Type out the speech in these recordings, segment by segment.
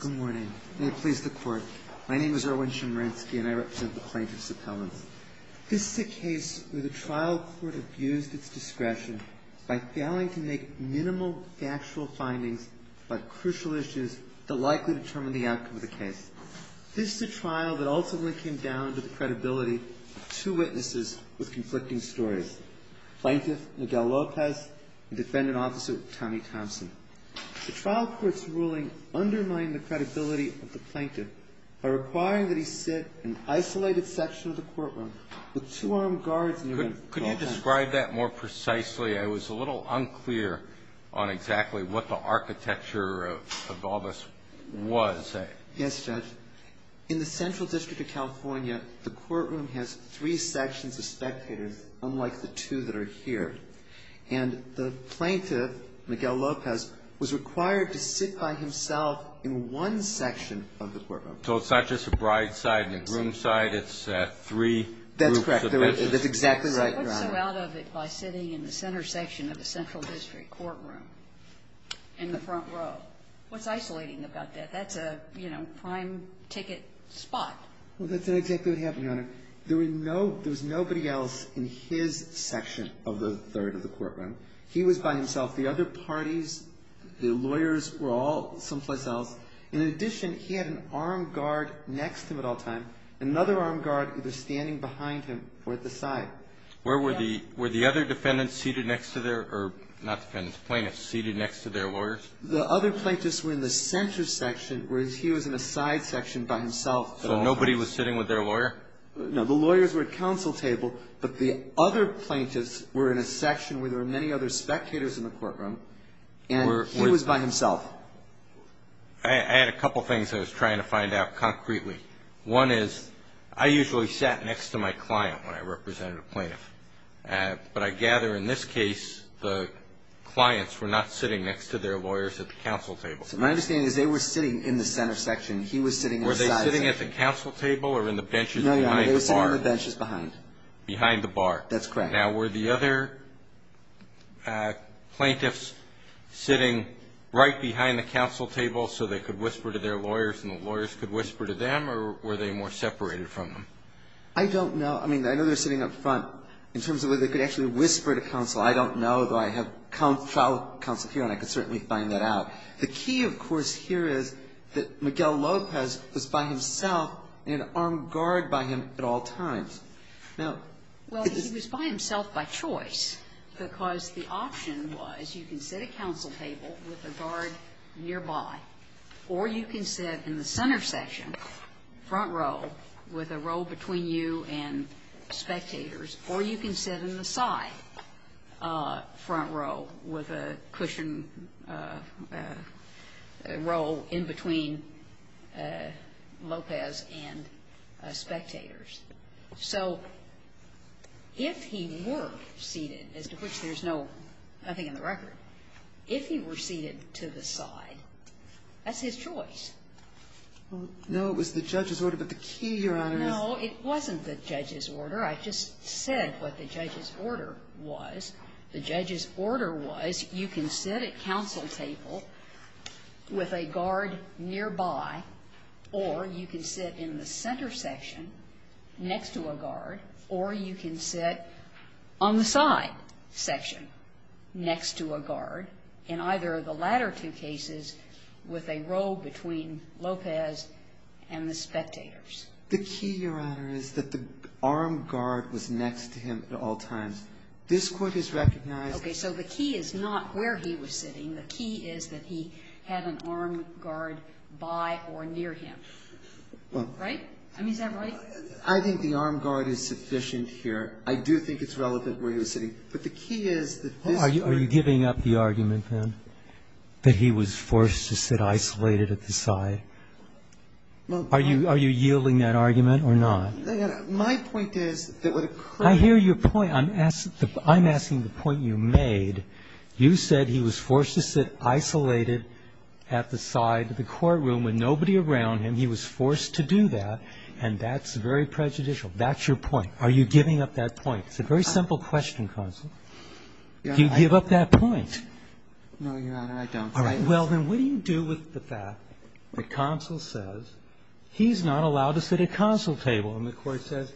Good morning. May it please the Court. My name is Erwin Chemerinsky and I represent the Plaintiff's Appellants. This is a case where the trial court abused its discretion by failing to make minimal factual findings about crucial issues that likely determine the outcome of the case. This is a trial that ultimately came down to the credibility of two witnesses with conflicting stories, Plaintiff Miguel Lopez and Defendant Officer Tommy Thompson. The trial court's ruling undermined the credibility of the Plaintiff by requiring that he sit in an isolated section of the courtroom with two armed guards near him. Could you describe that more precisely? I was a little unclear on exactly what the architecture of all this was. Yes, Judge. In the Central District of California, the courtroom has three sections of spectators, unlike the two that are here. And the Plaintiff, Miguel Lopez, was required to sit by himself in one section of the courtroom. So it's not just a bride's side and a groom's side. It's three groups of witnesses. That's correct. That's exactly right, Your Honor. What's so out of it by sitting in the center section of the Central District courtroom in the front row? What's isolating about that? That's a, you know, prime ticket spot. Well, that's not exactly what happened, Your Honor. There was nobody else in his section of the third of the courtroom. He was by himself. The other parties, the lawyers, were all someplace else. In addition, he had an armed guard next to him at all times, another armed guard either standing behind him or at the side. Were the other defendants seated next to their, or not defendants, plaintiffs, seated next to their lawyers? The other plaintiffs were in the center section, whereas he was in a side section by himself. So nobody was sitting with their lawyer? No. The lawyers were at counsel table. But the other plaintiffs were in a section where there were many other spectators in the courtroom. And he was by himself. I had a couple things I was trying to find out concretely. One is I usually sat next to my client when I represented a plaintiff. But I gather in this case the clients were not sitting next to their lawyers at the counsel table. So my understanding is they were sitting in the center section. He was sitting in the side section. Were they sitting at the counsel table or in the benches behind the bar? No, no. They were sitting on the benches behind. Behind the bar. That's correct. Now, were the other plaintiffs sitting right behind the counsel table so they could whisper to their lawyers and the lawyers could whisper to them, or were they more separated from them? I don't know. I mean, I know they're sitting up front. In terms of whether they could actually whisper to counsel, I don't know. But I have trial counsel here, and I could certainly find that out. The key, of course, here is that Miguel Lopez was by himself and armed guard by him at all times. Now he was by himself by choice because the option was you can sit at counsel table with a guard nearby, or you can sit in the center section, front row, with a row between you and spectators, or you can sit in the side front row with a cushion row in between Lopez and spectators. So if he were seated, as to which there's nothing in the record, if he were seated to the side, that's his choice. No, it was the judge's order. But the key, Your Honor, is no, it wasn't the judge's order. I just said what the judge's order was. The judge's order was you can sit at counsel table with a guard nearby, or you can sit in the center section next to a guard, or you can sit on the side section next to a guard in either of the latter two cases with a row between Lopez and the spectators. The key, Your Honor, is that the armed guard was next to him at all times. This Court has recognized that. Okay. So the key is not where he was sitting. The key is that he had an armed guard by or near him. Right? I mean, is that right? I think the armed guard is sufficient here. I do think it's relevant where he was sitting. But the key is that this Court has recognized that. Are you giving up the argument, then, that he was forced to sit isolated at the side? My point is that what occurred at the time was that the armed guard was sitting I'm asking the point you made. You said he was forced to sit isolated at the side of the courtroom with nobody around him. He was forced to do that, and that's very prejudicial. That's your point. Are you giving up that point? It's a very simple question, counsel. Do you give up that point? No, Your Honor, I don't. All right. Well, then, what do you do with the fact that counsel says he's not allowed to sit at counsel table, and the Court says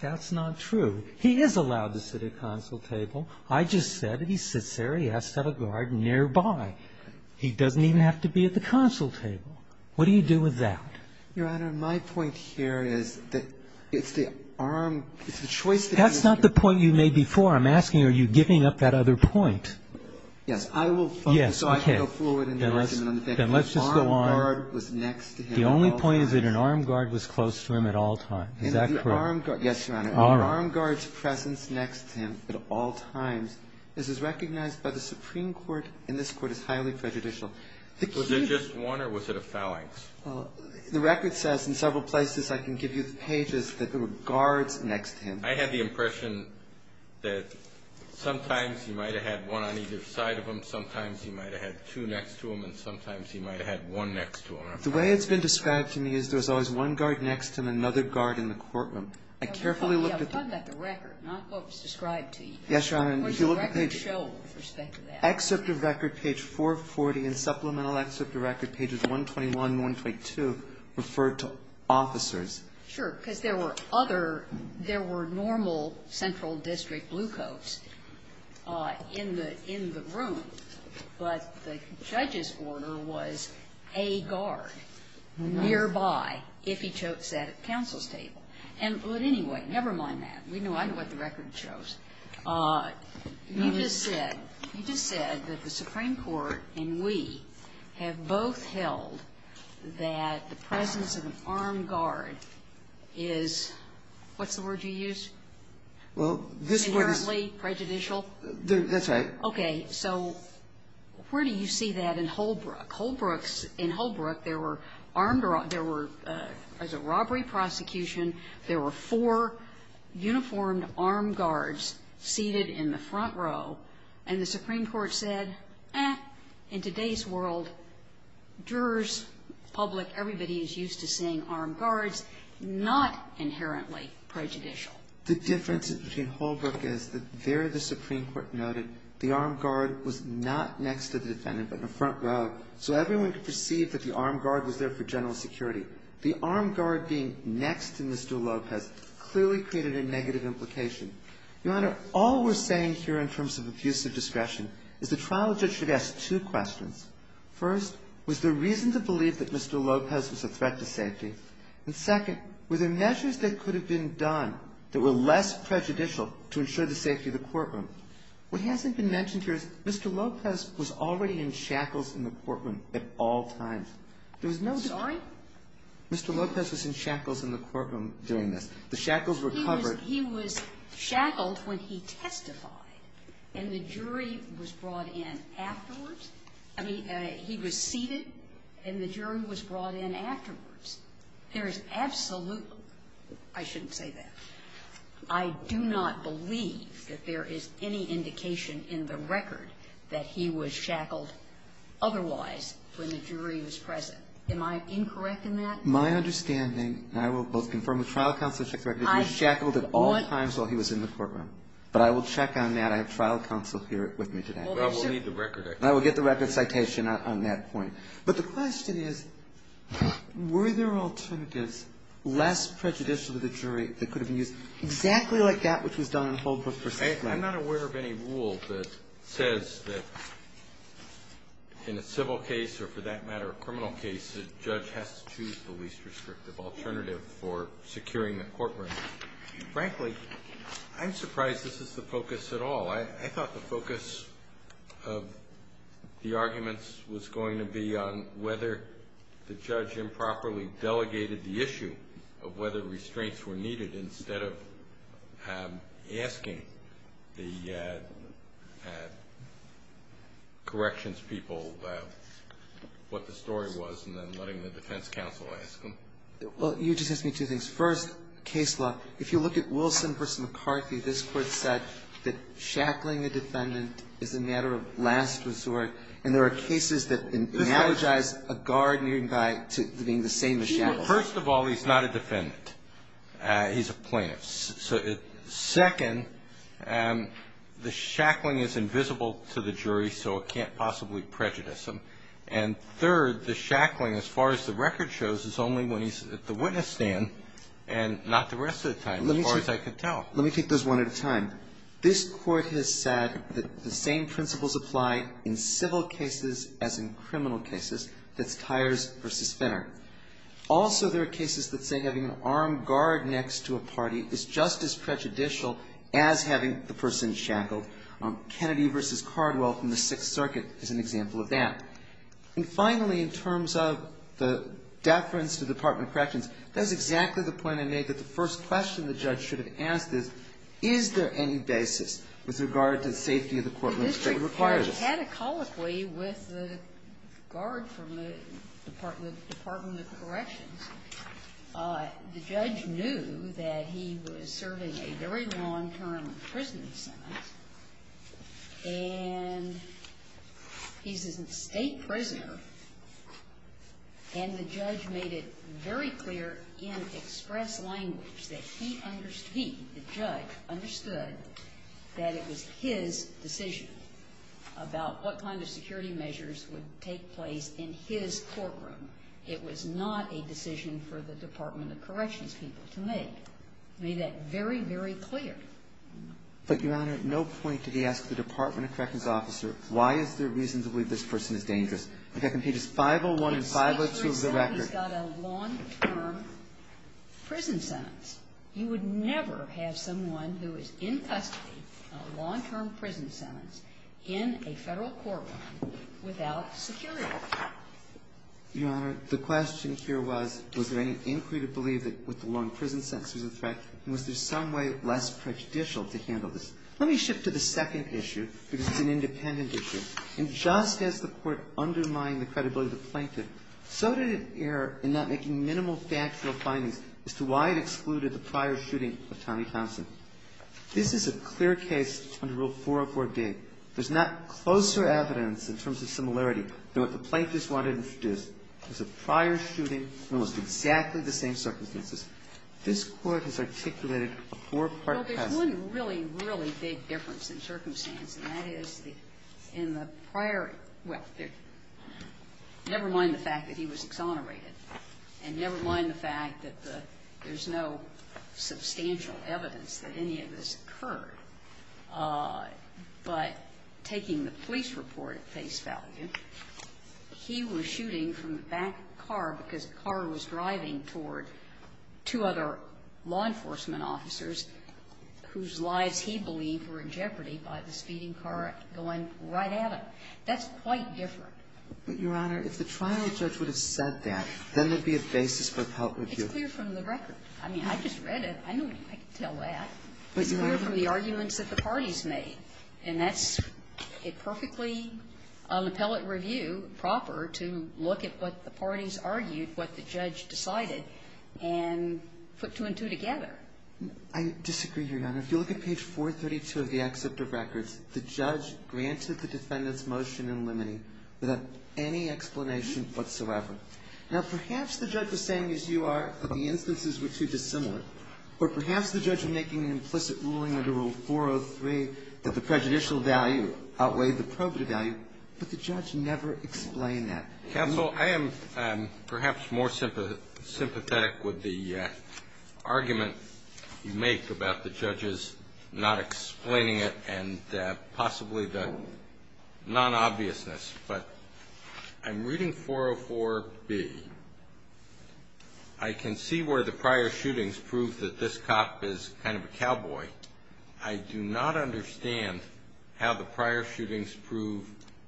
that's not true? He is allowed to sit at counsel table. I just said that he sits there. He has to have a guard nearby. He doesn't even have to be at the counsel table. What do you do with that? Your Honor, my point here is that it's the arm, it's the choice that you make. That's not the point you made before. I'm asking are you giving up that other point? Yes. I will focus so I can go forward in the argument on the fact that the armed guard was next to him at all times. The only point is that an armed guard was close to him at all times. Is that correct? Yes, Your Honor. An armed guard's presence next to him at all times is recognized by the Supreme Court, and this Court is highly prejudicial. Was it just one, or was it a phalanx? Well, the record says in several places I can give you the pages that there were guards next to him. I had the impression that sometimes he might have had one on either side of him, sometimes he might have had two next to him, and sometimes he might have had one next to him. The way it's been described to me is there's always one guard next to him, another guard in the courtroom. I carefully looked at the record. We're talking about the record, not what was described to you. Yes, Your Honor. What does the record show with respect to that? Excerpt of record page 440 and supplemental excerpt of record pages 121 and 122 refer to officers. Sure. Because there were other – there were normal central district blue coats in the And, but anyway, never mind that. We know – I know what the record shows. You just said – you just said that the Supreme Court and we have both held that the presence of an armed guard is – what's the word you used? Well, this – Inherently prejudicial? That's right. Okay. So where do you see that in Holbrook? Holbrook's – in Holbrook, there were armed – there were, as a robbery prosecution, there were four uniformed armed guards seated in the front row. And the Supreme Court said, eh, in today's world, jurors, public, everybody is used to seeing armed guards, not inherently prejudicial. The difference between Holbrook is that there the Supreme Court noted the armed guard was not next to the defendant but in the front row, so everyone could perceive that the armed guard was there for general security. The armed guard being next to Mr. Lopez clearly created a negative implication. Your Honor, all we're saying here in terms of abusive discretion is the trial judge should ask two questions. First, was there reason to believe that Mr. Lopez was a threat to safety? And second, were there measures that could have been done that were less prejudicial to ensure the safety of the courtroom? What hasn't been mentioned here is Mr. Lopez was already in shackles in the courtroom at all times. There was no time Mr. Lopez was in shackles in the courtroom during this. The shackles were covered. He was shackled when he testified, and the jury was brought in afterwards. I mean, he was seated, and the jury was brought in afterwards. There is absolutely no, I shouldn't say that. I do not believe that there is any indication in the record that he was shackled otherwise when the jury was present. Am I incorrect in that? My understanding, and I will both confirm with trial counsel and check the record, that he was shackled at all times while he was in the courtroom. But I will check on that. I have trial counsel here with me today. Well, we'll need the record. I will get the record citation on that point. But the question is, were there alternatives less prejudicial to the jury that could have been used exactly like that which was done in Holbrook v. Flanders? I'm not aware of any rule that says that in a civil case or, for that matter, a criminal case, the judge has to choose the least restrictive alternative for securing the courtroom. Frankly, I'm surprised this is the focus at all. I thought the focus of the arguments was going to be on whether the judge improperly instead of asking the corrections people what the story was and then letting the defense counsel ask them. Well, you just asked me two things. First, case law, if you look at Wilson v. McCarthy, this Court said that shackling a defendant is a matter of last resort, and there are cases that analogize a guard nearing by to being the same as shackled. Well, first of all, he's not a defendant. He's a plaintiff. Second, the shackling is invisible to the jury, so it can't possibly prejudice him. And third, the shackling, as far as the record shows, is only when he's at the witness stand and not the rest of the time, as far as I could tell. Let me take those one at a time. This Court has said that the same principles apply in civil cases as in criminal cases. That's Tyers v. Finner. Also, there are cases that say having an armed guard next to a party is just as prejudicial as having the person shackled. Kennedy v. Cardwell from the Sixth Circuit is an example of that. And finally, in terms of the deference to the Department of Corrections, that's exactly the point I made, that the first question the judge should have asked is, is there any basis with regard to the safety of the courtroom that would require this? And catecholically, with regard from the Department of Corrections, the judge knew that he was serving a very long-term prison sentence, and he's a State prisoner, and the judge made it very clear in express language that he understood, he, the judge understood that it was his decision about what kind of security measures would take place in his courtroom. It was not a decision for the Department of Corrections people to make. He made that very, very clear. But, Your Honor, at no point did he ask the Department of Corrections officer, why is there reason to believe this person is dangerous? If that completes 501 and 502 of the record. If a State prisoner has got a long-term prison sentence, you would never have someone who is in custody, a long-term prison sentence, in a Federal courtroom without security. You Honor, the question here was, was there any inquiry to believe that with the long prison sentence there's a threat, and was there some way less prejudicial to handle this? Let me shift to the second issue, because it's an independent issue. And just as the Court undermined the credibility of the plaintiff, so did it err in not making minimal factual findings as to why it excluded the prior shooting of Tommy Thompson. This is a clear case under Rule 404B. There's not closer evidence in terms of similarity than what the plaintiff's wanted to introduce. There's a prior shooting in almost exactly the same circumstances. This Court has articulated a four-part test. Well, there's one really, really big difference in circumstance, and that is in the prior – well, never mind the fact that he was exonerated. And never mind the fact that the – there's no substantial evidence that any of this occurred. But taking the police report at face value, he was shooting from the back of the car because the car was driving toward two other law enforcement officers whose lives he believed were in jeopardy by the speeding car going right at him. That's quite different. But, Your Honor, if the trial judge would have said that, then there would be a basis for appellate review. It's clear from the record. I mean, I just read it. I know I can tell that. It's clear from the arguments that the parties made. And that's a perfectly – an appellate review proper to look at what the parties argued, what the judge decided, and put two and two together. I disagree, Your Honor. If you look at page 432 of the excerpt of records, the judge granted the defendant's motion in limine without any explanation whatsoever. Now, perhaps the judge was saying, as you are, that the instances were too dissimilar. Or perhaps the judge was making an implicit ruling under Rule 403 that the prejudicial value outweighed the probative value. But the judge never explained that. Counsel, I am perhaps more sympathetic with the argument you make about the judges not explaining it and possibly the non-obviousness. But I'm reading 404B. I can see where the prior shootings prove that this cop is kind of a cowboy. I do not understand how the prior shootings prove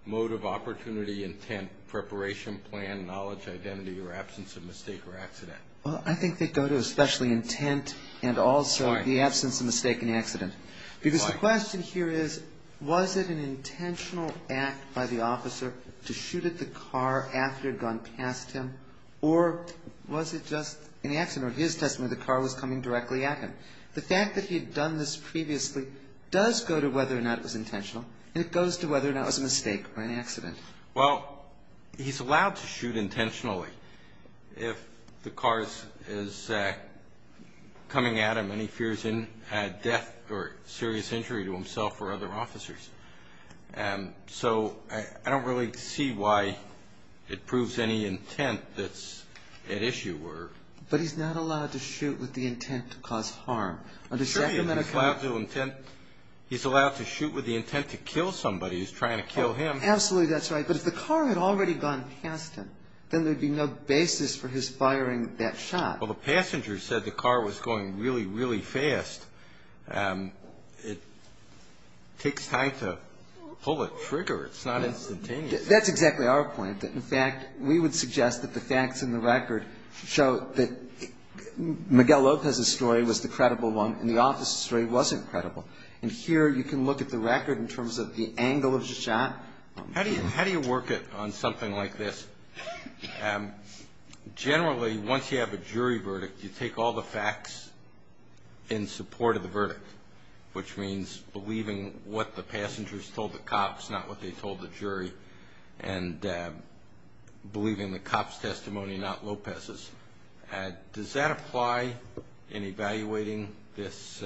mode of opportunity, intent, preparation plan, knowledge, identity, or absence of mistake or accident. Well, I think they go to especially intent and also the absence of mistake and accident. Because the question here is, was it an intentional act by the officer to shoot at the car after it had gone past him? Or was it just an accident? In his testimony, the car was coming directly at him. The fact that he had done this previously does go to whether or not it was intentional, and it goes to whether or not it was a mistake or an accident. Well, he's allowed to shoot intentionally if the car is coming at him and he fears death or serious injury to himself or other officers. So I don't really see why it proves any intent that's at issue. But he's not allowed to shoot with the intent to cause harm. He's allowed to shoot with the intent to kill somebody who's trying to kill him. Absolutely that's right. But if the car had already gone past him, then there would be no basis for his firing that shot. Well, the passenger said the car was going really, really fast. It takes time to pull a trigger. It's not instantaneous. That's exactly our point. In fact, we would suggest that the facts in the record show that Miguel Lopez's story was the credible one and the officer's story wasn't credible. And here you can look at the record in terms of the angle of the shot. How do you work it on something like this? Generally, once you have a jury verdict, you take all the facts in support of the verdict, which means believing what the passengers told the cops, not what they told the jury, and believing the cops' testimony, not Lopez's. Does that apply in evaluating this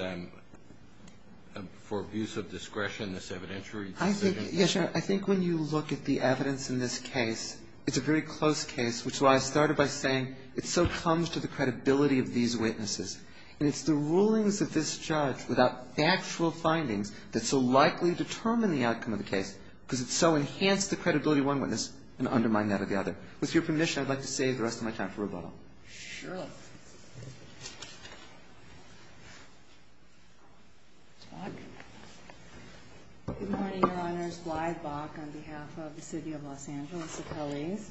for abuse of discretion, this evidentiary decision? Yes, Your Honor. I think when you look at the evidence in this case, it's a very close case, which is why I started by saying it so comes to the credibility of these witnesses. And it's the rulings of this judge without factual findings that so likely determine the outcome of the case because it so enhanced the credibility of one witness and undermined that of the other. With your permission, I'd like to save the rest of my time for rebuttal. Sure. Good morning, Your Honors. Glyde Bach on behalf of the City of Los Angeles Appellees.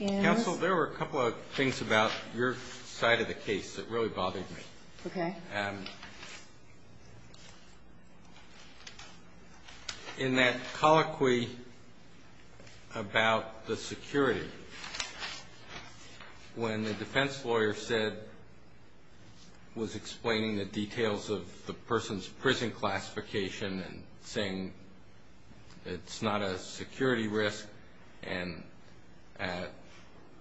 Counsel, there were a couple of things about your side of the case that really bothered me. Okay. In that colloquy about the security, when the defense lawyer said, was explaining the details of the person's prison classification and saying it's not a security risk and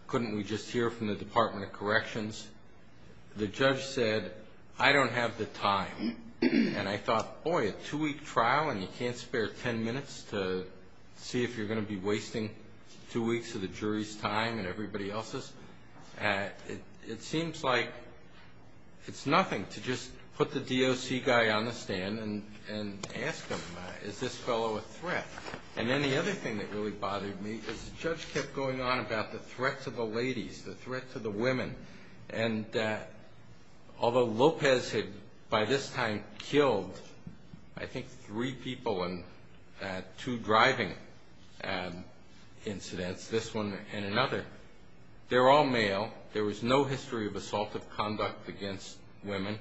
couldn't we just hear from the Department of Corrections, the judge said, I don't have the time. And I thought, boy, a two-week trial and you can't spare ten minutes to see if you're going to be wasting two weeks of the jury's time and everybody else's. It seems like it's nothing to just put the DOC guy on the stand and ask him, is this fellow a threat? And then the other thing that really bothered me is the judge kept going on about the threat to the ladies, the threat to the women. And although Lopez had by this time killed I think three people in two driving incidents, this one and another, they're all male, there was no history of assaultive conduct against women.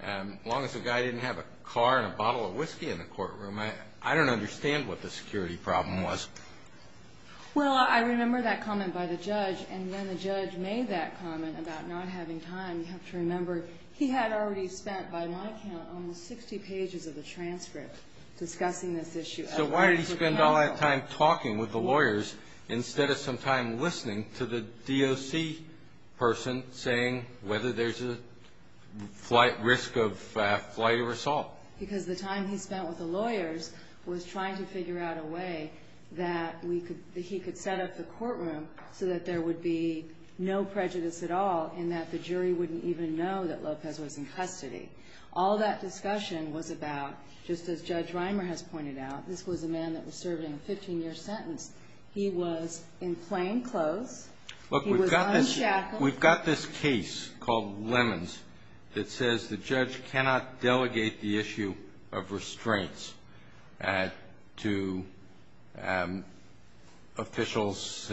As long as the guy didn't have a car and a bottle of whiskey in the courtroom, I don't understand what the security problem was. Well, I remember that comment by the judge, and when the judge made that comment about not having time, you have to remember he had already spent by my count almost 60 pages of the transcript discussing this issue. So why did he spend all that time talking with the lawyers instead of some time listening to the DOC person saying whether there's a risk of flight or assault? Because the time he spent with the lawyers was trying to figure out a way that he could set up the courtroom so that there would be no prejudice at all and that the jury wouldn't even know that Lopez was in custody. All that discussion was about, just as Judge Reimer has pointed out, this was a man that was serving a 15-year sentence. He was in plain clothes. He was unshackled. Look, we've got this case called Lemons that says the judge cannot delegate the issue of restraints to officials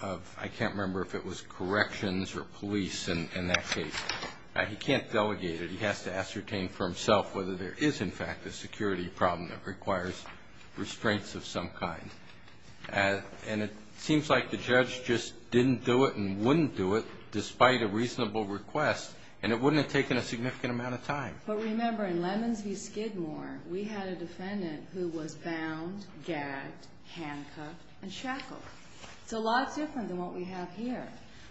of, I can't remember if it was corrections or police in that case. He can't delegate it. He has to ascertain for himself whether there is, in fact, a security problem that requires restraints of some kind. And it seems like the judge just didn't do it and wouldn't do it despite a reasonable request, and it wouldn't have taken a significant amount of time. But remember, in Lemons v. Skidmore, we had a defendant who was bound, gagged, handcuffed, and shackled. It's a lot different than what we have here.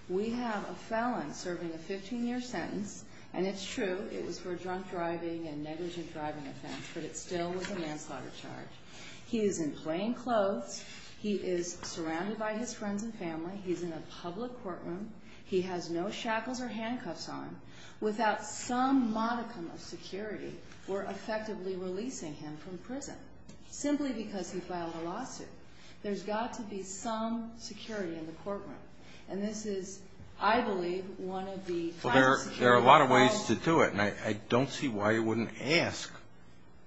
We have a felon serving a 15-year sentence, and it's true, it was for a drunk driving and negligent driving offense, but it still was a manslaughter charge. He is in plain clothes. He is surrounded by his friends and family. He's in a public courtroom. He has no shackles or handcuffs on. Without some modicum of security, we're effectively releasing him from prison simply because he filed a lawsuit. There's got to be some security in the courtroom. And this is, I believe, one of the final security problems. And I don't see why you wouldn't ask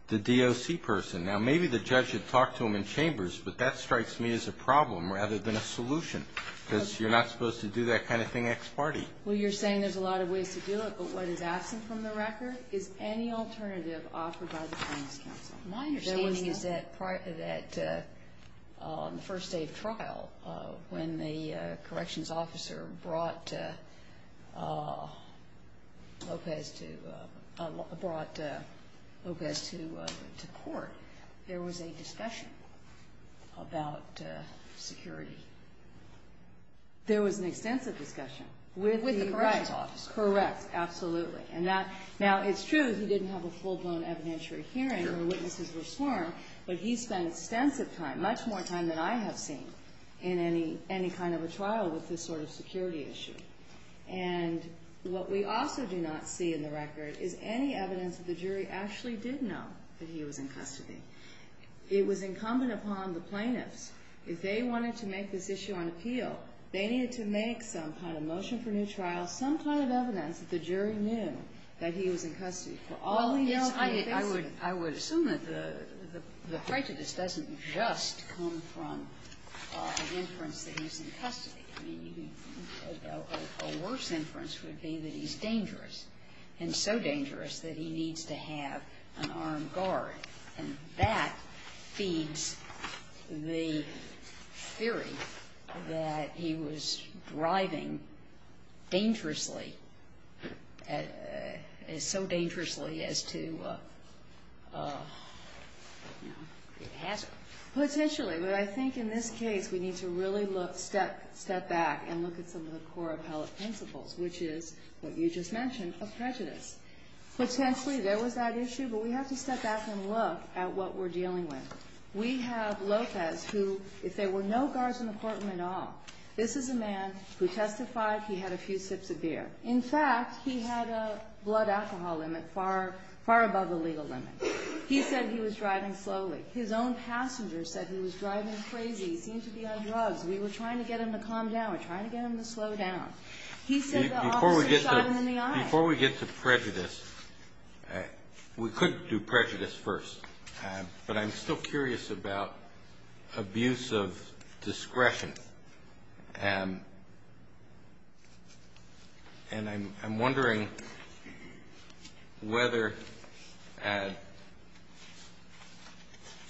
the DOC person. Now, maybe the judge had talked to him in chambers, but that strikes me as a problem rather than a solution, because you're not supposed to do that kind of thing ex parte. Well, you're saying there's a lot of ways to do it, but what is absent from the record is any alternative offered by the Plaintiffs' Council. My understanding is that on the first day of trial, when the corrections officer brought Lopez to court, there was a discussion about security. There was an extensive discussion. With the corrections officer. Correct, absolutely. Now, it's true he didn't have a full-blown evidentiary hearing where witnesses were sworn, but he spent extensive time, much more time than I have seen in any kind of a trial with this sort of security issue. And what we also do not see in the record is any evidence that the jury actually did know that he was in custody. It was incumbent upon the plaintiffs. If they wanted to make this issue on appeal, they needed to make some kind of motion for new trial, some kind of evidence that the jury knew that he was in custody. Well, yes, I would assume that the prejudice doesn't just come from an inference that he's in custody. A worse inference would be that he's dangerous, and so dangerous that he needs to have an armed guard, and that feeds the theory that he was driving dangerously, so dangerously as to, you know, the hazard. Potentially, but I think in this case we need to really look, step back, and look at some of the core appellate principles, which is what you just mentioned of prejudice. Potentially there was that issue, but we have to step back and look at what we're dealing with. We have Lopez, who, if there were no guards in the courtroom at all, this is a man who testified he had a few sips of beer. In fact, he had a blood alcohol limit far above the legal limit. He said he was driving slowly. His own passenger said he was driving crazy. He seemed to be on drugs. We were trying to get him to calm down. We're trying to get him to slow down. He said the officer shot him in the eye. Do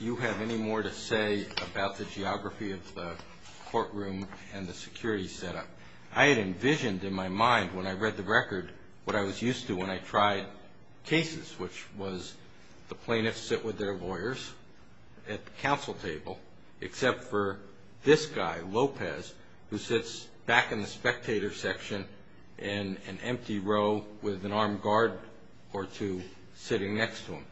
you have any more to say about the geography of the courtroom and the security setup? I had envisioned in my mind when I read the record what I was used to when I tried cases, which was the plaintiffs sit with their lawyers at the counsel table, except for this guy, Lopez, who sits back in the spectator section in an empty row with an armed guard or two sitting next to him.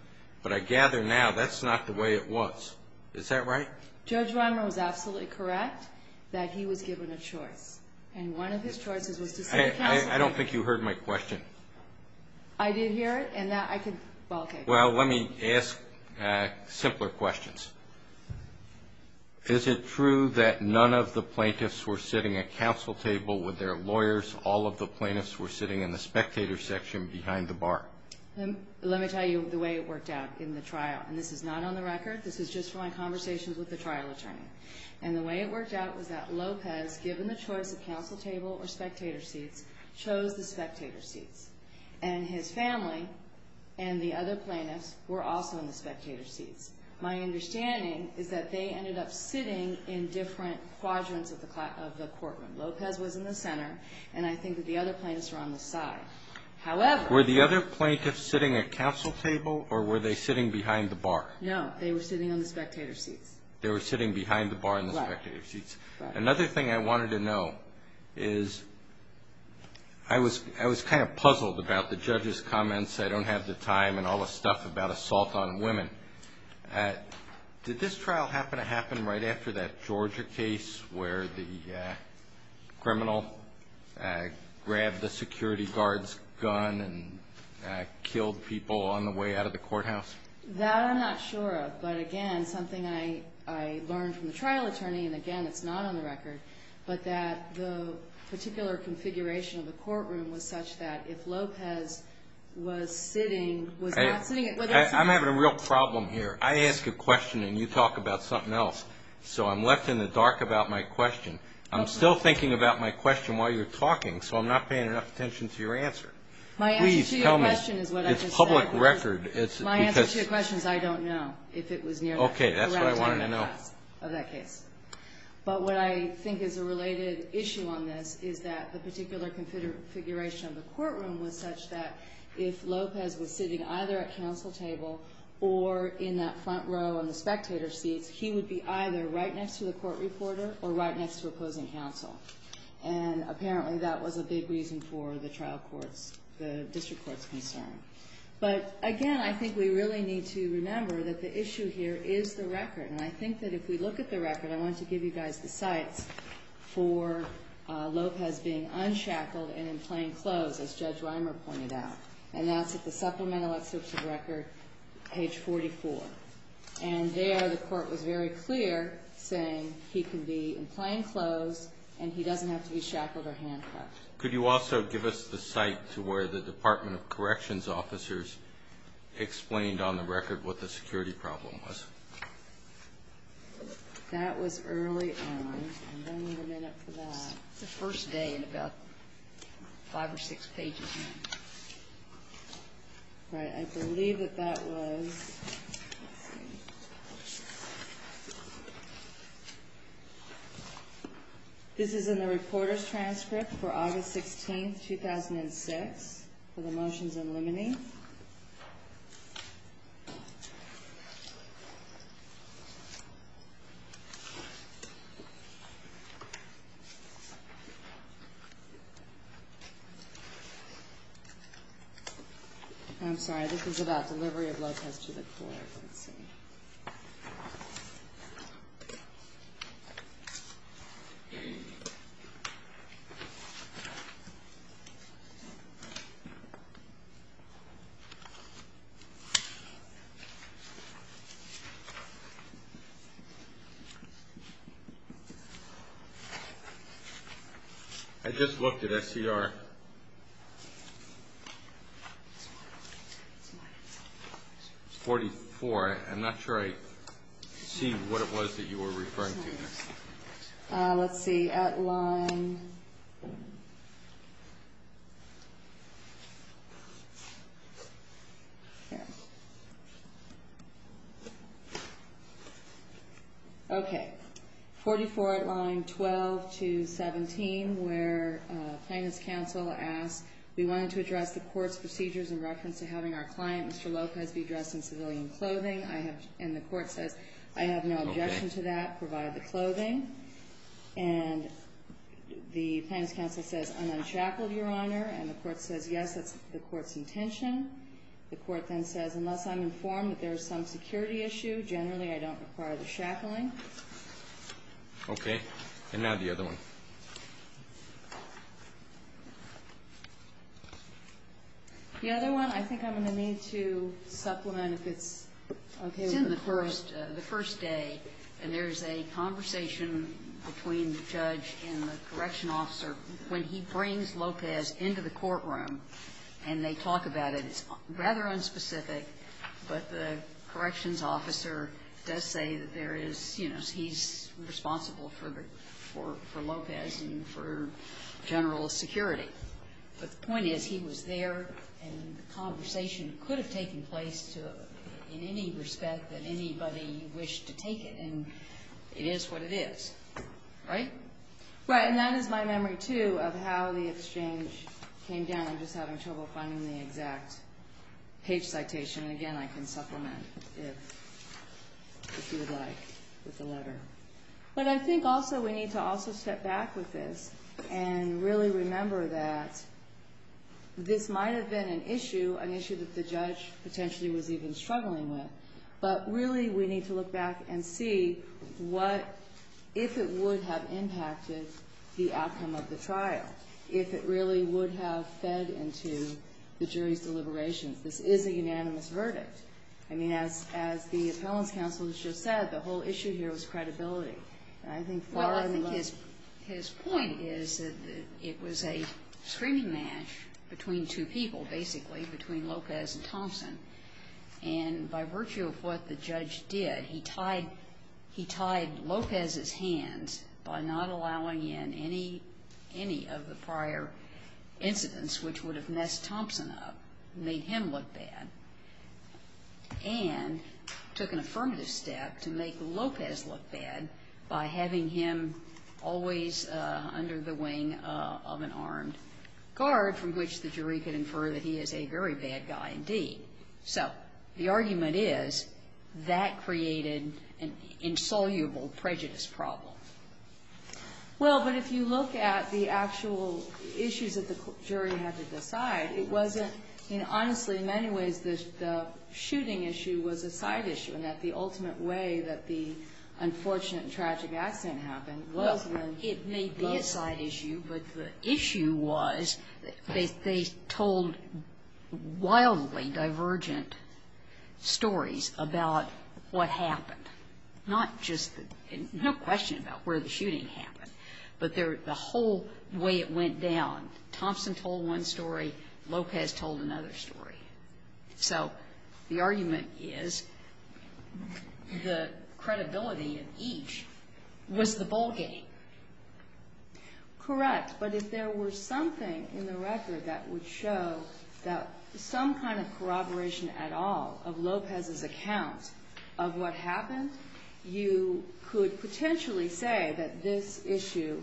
But I gather now that's not the way it was. Is that right? Judge Reimer was absolutely correct that he was given a choice. I don't think you heard my question. Well, let me ask simpler questions. Is it true that none of the plaintiffs were sitting at counsel table with their lawyers? Of course, all of the plaintiffs were sitting in the spectator section behind the bar. Let me tell you the way it worked out in the trial. And this is not on the record. This is just from my conversations with the trial attorney. And the way it worked out was that Lopez, given the choice of counsel table or spectator seats, chose the spectator seats. And his family and the other plaintiffs were also in the spectator seats. My understanding is that they ended up sitting in different quadrants of the courtroom. Lopez was in the center, and I think that the other plaintiffs were on the side. Were the other plaintiffs sitting at counsel table, or were they sitting behind the bar? No, they were sitting on the spectator seats. They were sitting behind the bar in the spectator seats. Another thing I wanted to know is I was kind of puzzled about the judge's comments, I don't have the time and all the stuff about assault on women. Did this trial happen to happen right after that Georgia case where the criminal grabbed the security guard's gun and killed people on the way out of the courthouse? That I'm not sure of, but again, something I learned from the trial attorney, and again, it's not on the record, but that the particular configuration of the courtroom was such that if Lopez was sitting, was not sitting at whether it's I'm having a real problem here. I ask a question and you talk about something else, so I'm left in the dark about my question. I'm still thinking about my question while you're talking, so I'm not paying enough attention to your answer. My answer to your question is what I just said. My answer to your question is I don't know if it was near that time in the past of that case. But what I think is a related issue on this is that the particular configuration of the courtroom was such that if Lopez was sitting either at counsel table, or in that front row in the spectator seats, he would be either right next to the court reporter, or right next to opposing counsel, and apparently that was a big reason for the trial court's, the district court's concern. But again, I think we really need to remember that the issue here is the record, and I think that if we look at the record, I want to give you guys the sites for Lopez being unshackled and in plain clothes, as Judge Reimer pointed out, and that's at the supplemental excerpts of the record, page 44. And there the court was very clear, saying he can be in plain clothes, and he doesn't have to be shackled or handcuffed. Could you also give us the site to where the Department of Corrections officers explained on the record what the security problem was? That was early on, and I need a minute for that. It's the first day in about five or six pages. Right, I believe that that was... This is in the reporter's transcript for August 16, 2006, for the motions eliminating. I'm sorry, this is about delivery of Lopez to the court. Let's see. I just looked at SCR. It's 44. I'm not sure I see what it was that you were referring to there. Let's see, at line... Okay, 44 at line 12 to 17, where plaintiff's counsel, Judge Reimer, asked, we wanted to address the court's procedures in reference to having our client, Mr. Lopez, be dressed in civilian clothing, and the court says, I have no objection to that, provide the clothing. And the plaintiff's counsel says, I'm not shackled, Your Honor. And the court says, yes, that's the court's intention. The court then says, unless I'm informed that there's some security issue, generally I don't require the shackling. Okay, and now the other one. The other one, I think I'm going to need to supplement if it's okay with the court. It's in the first day, and there's a conversation between the judge and the corrections officer when he brings Lopez into the courtroom, and they talk about it. It's rather unspecific, but the corrections officer does say that there is, you know, he's responsible for Lopez and for general security. But the point is, he was there, and the conversation could have taken place in any respect that anybody wished to take it, and it is what it is, right? Right, and that is my memory, too, of how the exchange came down. I'm just having trouble finding the exact page citation. And again, I can supplement if you would like with the letter. But I think also we need to also step back with this and really remember that this might have been an issue, an issue that the judge potentially was even struggling with, but really we need to look back and see what, if it would have impacted the outcome of the trial, if it really would have fed into the jury's deliberations. This is a unanimous verdict. I mean, as the appellant's counsel has just said, the whole issue here was credibility. And I think far and wide. Well, I think his point is that it was a screaming match between two people, basically, between Lopez and Thompson. And by virtue of what the judge did, he tied Lopez's hands by not allowing in any of the prior incidents which would have messed Thompson up, made him look bad, and took an affirmative step to make Lopez look bad by having him always under the wing of an armed guard from which the jury could infer that he is a very bad guy indeed. So the argument is that created an insoluble prejudice problem. Well, but if you look at the actual issues that the jury had to decide, it wasn't, I mean, honestly, in many ways the shooting issue was a side issue and that the ultimate way that the unfortunate and tragic accident happened was when Lopez was shot. Well, it may be a side issue, but the issue was they told wildly divergent stories about what happened, not just the question about where the shooting happened, but the whole way it went down. Thompson told one story. Lopez told another story. So the argument is the credibility of each was the ballgame. Correct, but if there were something in the record that would show that some kind of corroboration at all of Lopez's account of what happened, you could potentially say that this issue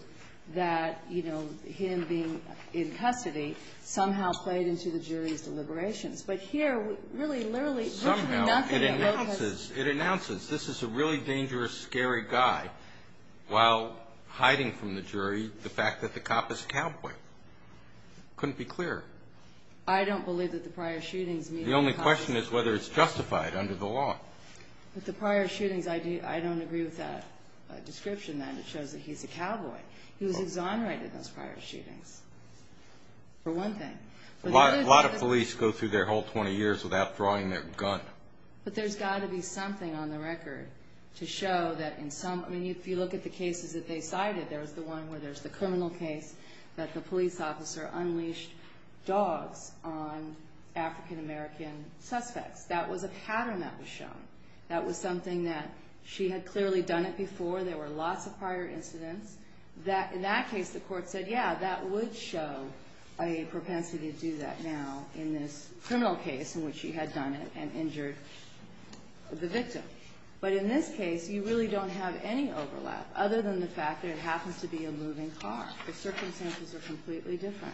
that, you know, him being in custody somehow played into the jury's deliberations. But here, really, literally, there's nothing that Lopez ---- Somehow it announces this is a really dangerous, scary guy while hiding from the jury the fact that the cop is a cowboy. Couldn't be clearer. I don't believe that the prior shootings ---- The only question is whether it's justified under the law. But the prior shootings, I don't agree with that description then. It shows that he's a cowboy. He was exonerated in those prior shootings, for one thing. A lot of police go through their whole 20 years without drawing their gun. But there's got to be something on the record to show that in some ---- I mean, if you look at the cases that they cited, there's the one where there's the criminal case that the police officer unleashed dogs on African-American suspects. That was a pattern that was shown. That was something that she had clearly done it before. There were lots of prior incidents. In that case, the court said, yeah, that would show a propensity to do that now in this criminal case in which she had done it and injured the victim. But in this case, you really don't have any overlap, other than the fact that it happens to be a moving car. The circumstances are completely different.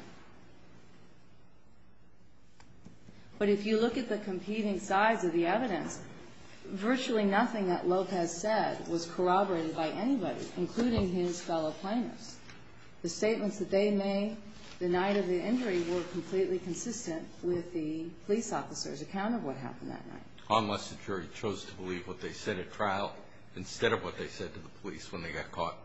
But if you look at the competing sides of the evidence, virtually nothing that Lopez said was corroborated by anybody, including his fellow plaintiffs. The statements that they made the night of the injury were completely consistent with the police officer's account of what happened that night. Unless the jury chose to believe what they said at trial instead of what they said to the police when they got caught.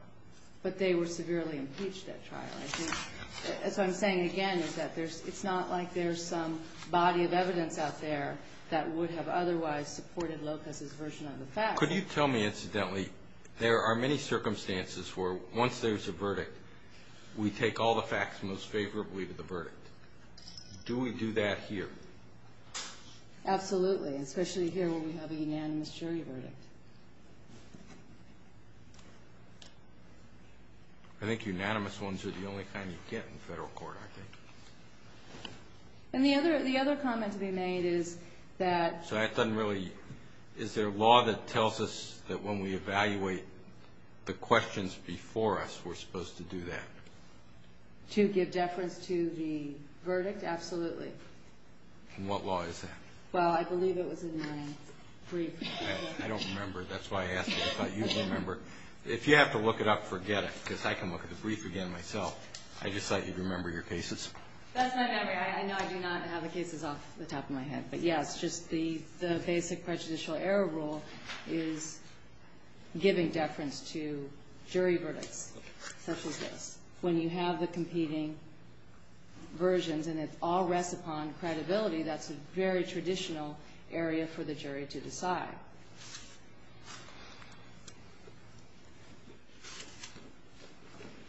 But they were severely impeached at trial. I think, as I'm saying again, is that it's not like there's some body of evidence out there that would have otherwise supported Lopez's version of the facts. Could you tell me, incidentally, there are many circumstances where once there's a verdict, we take all the facts most favorably to the verdict. Do we do that here? Absolutely, especially here where we have a unanimous jury verdict. I think unanimous ones are the only kind you get in federal court, I think. And the other comment to be made is that... So that doesn't really... Is there a law that tells us that when we evaluate the questions before us, we're supposed to do that? To give deference to the verdict? Absolutely. And what law is that? Well, I believe it was in your brief. I don't remember. That's why I asked. I thought you'd remember. If you have to look it up, forget it, because I can look at the brief again myself. I just thought you'd remember your cases. That's my memory. I know I do not have the cases off the top of my head. But, yes, just the basic prejudicial error rule is giving deference to jury verdicts. Such as this. When you have the competing versions and it all rests upon credibility, that's a very traditional area for the jury to decide.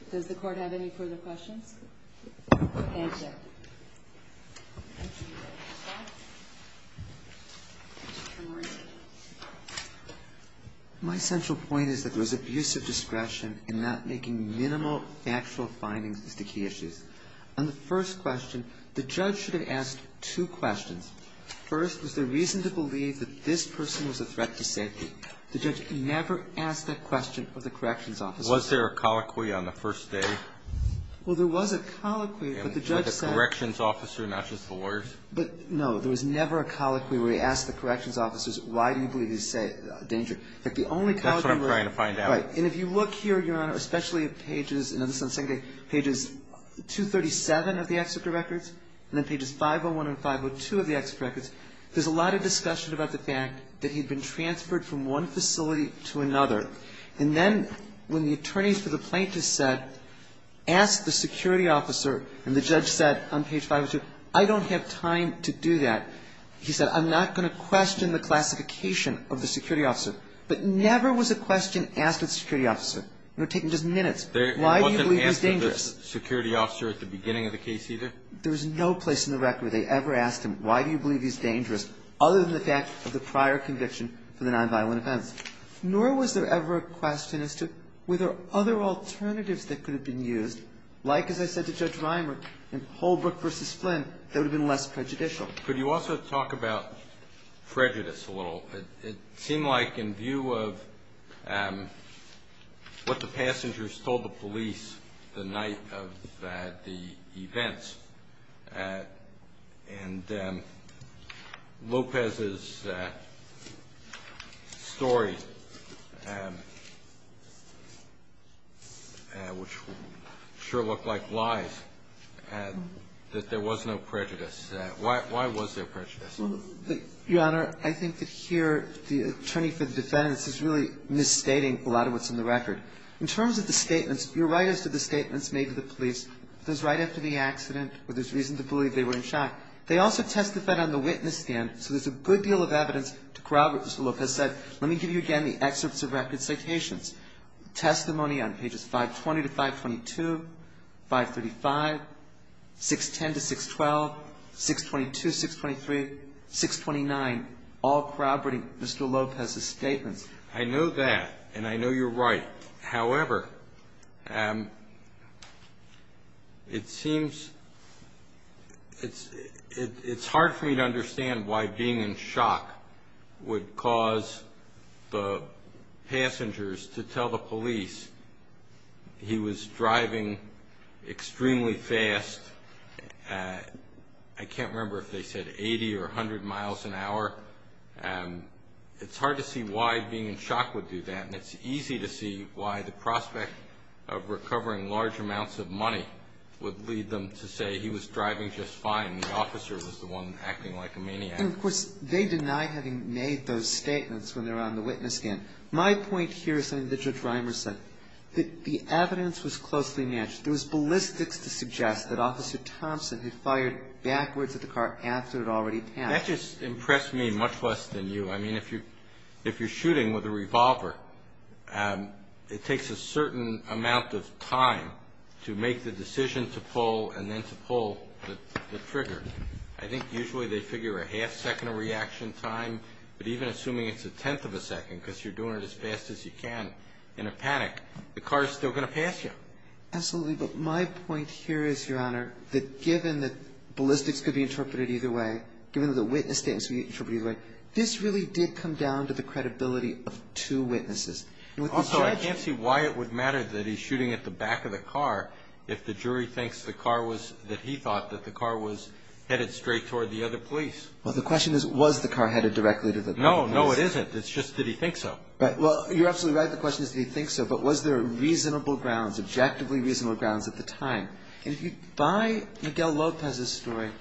Does the Court have any further questions? Thank you. My central point is that there was abusive discretion in not making minimal factual findings as to key issues. On the first question, the judge should have asked two questions. First, was there reason to believe that this person was a threat to safety? The judge never asked that question of the corrections officer. Was there a colloquy on the first day? Well, there was a colloquy, but the judge said, But, no, there was never a colloquy where he asked the corrections officers, why do you believe he's a danger? That's what I'm trying to find out. Right. And if you look here, Your Honor, especially at pages 237 of the executor records and then pages 501 and 502 of the executor records, there's a lot of discussion about the fact that he'd been transferred from one facility to another. And then when the attorneys for the plaintiffs said, ask the security officer, and the judge said on page 502, I don't have time to do that. He said, I'm not going to question the classification of the security officer. But never was a question asked of the security officer. You're taking just minutes. Why do you believe he's dangerous? He wasn't asked of the security officer at the beginning of the case either? There's no place in the record they ever asked him, why do you believe he's dangerous, other than the fact of the prior conviction for the nonviolent offense. Nor was there ever a question as to were there other alternatives that could have been used, like as I said to Judge Reimer, in Holbrook v. Flynn, that would have been less prejudicial. Could you also talk about prejudice a little? It seemed like in view of what the passengers told the police the night of the events and Lopez's story, which sure looked like lies, that there was no prejudice. Why was there prejudice? Your Honor, I think that here the attorney for the defendants is really misstating a lot of what's in the record. In terms of the statements, you're right as to the statements made to the police. Those right after the accident, there's reason to believe they were in shock. They also testified on the witness stand, so there's a good deal of evidence to corroborate what Mr. Lopez said. Let me give you again the excerpts of record citations. Testimony on pages 520 to 522, 535, 610 to 612, 622, 623, 629, all corroborating Mr. Lopez's statements. I know that, and I know you're right. However, it seems it's hard for me to understand why being in shock would cause the passengers to tell the police he was driving extremely fast. I can't remember if they said 80 or 100 miles an hour. It's hard to see why being in shock would do that, and it's easy to see why the prospect of recovering large amounts of money would lead them to say he was driving just fine and the officer was the one acting like a maniac. And, of course, they deny having made those statements when they're on the witness stand. My point here is something that Judge Reimer said, that the evidence was closely matched. There was ballistics to suggest that Officer Thompson had fired backwards at the car after it had already passed. That just impressed me much less than you. I mean, if you're shooting with a revolver, it takes a certain amount of time to make the decision to pull and then to pull the trigger. I think usually they figure a half second of reaction time, but even assuming it's a tenth of a second, because you're doing it as fast as you can in a panic, the car is still going to pass you. Absolutely. But my point here is, Your Honor, that given that ballistics could be interpreted either way, given that the witness statements could be interpreted either way, this really did come down to the credibility of two witnesses. Also, I can't see why it would matter that he's shooting at the back of the car if the jury thinks the car was, that he thought that the car was headed straight toward the other police. Well, the question is, was the car headed directly to the police? No, no, it isn't. It's just, did he think so? Right. Well, you're absolutely right. The question is, did he think so? But was there reasonable grounds, objectively reasonable grounds at the time? And if you buy Miguel Lopez's story,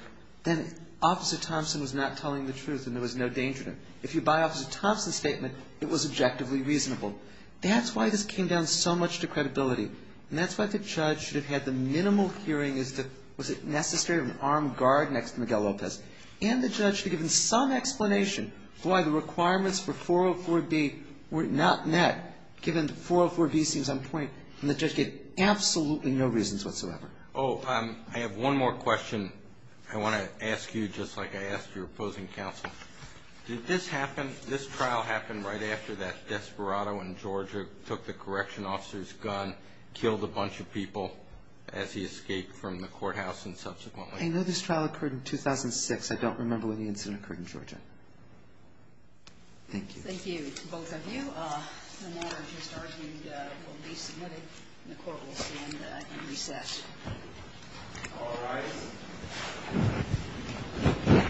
then Officer Thompson was not telling the truth and there was no danger to him. If you buy Officer Thompson's statement, it was objectively reasonable. That's why this came down so much to credibility, and that's why the judge should have had the minimal hearing as to was it necessary to have an armed guard next to Miguel Lopez, and the judge should have given some explanation for why the requirements for 404B were not met, given 404B seems on point, and the judge gave absolutely no reasons whatsoever. Oh, I have one more question I want to ask you, just like I asked your opposing counsel. Did this happen, this trial happen right after that Desperado in Georgia took the correction officer's gun, killed a bunch of people as he escaped from the courthouse and subsequently? I know this trial occurred in 2006. I don't remember when the incident occurred in Georgia. Thank you. Thank you, both of you. The matter just argued will be submitted, and the court will stand at recess. All rise.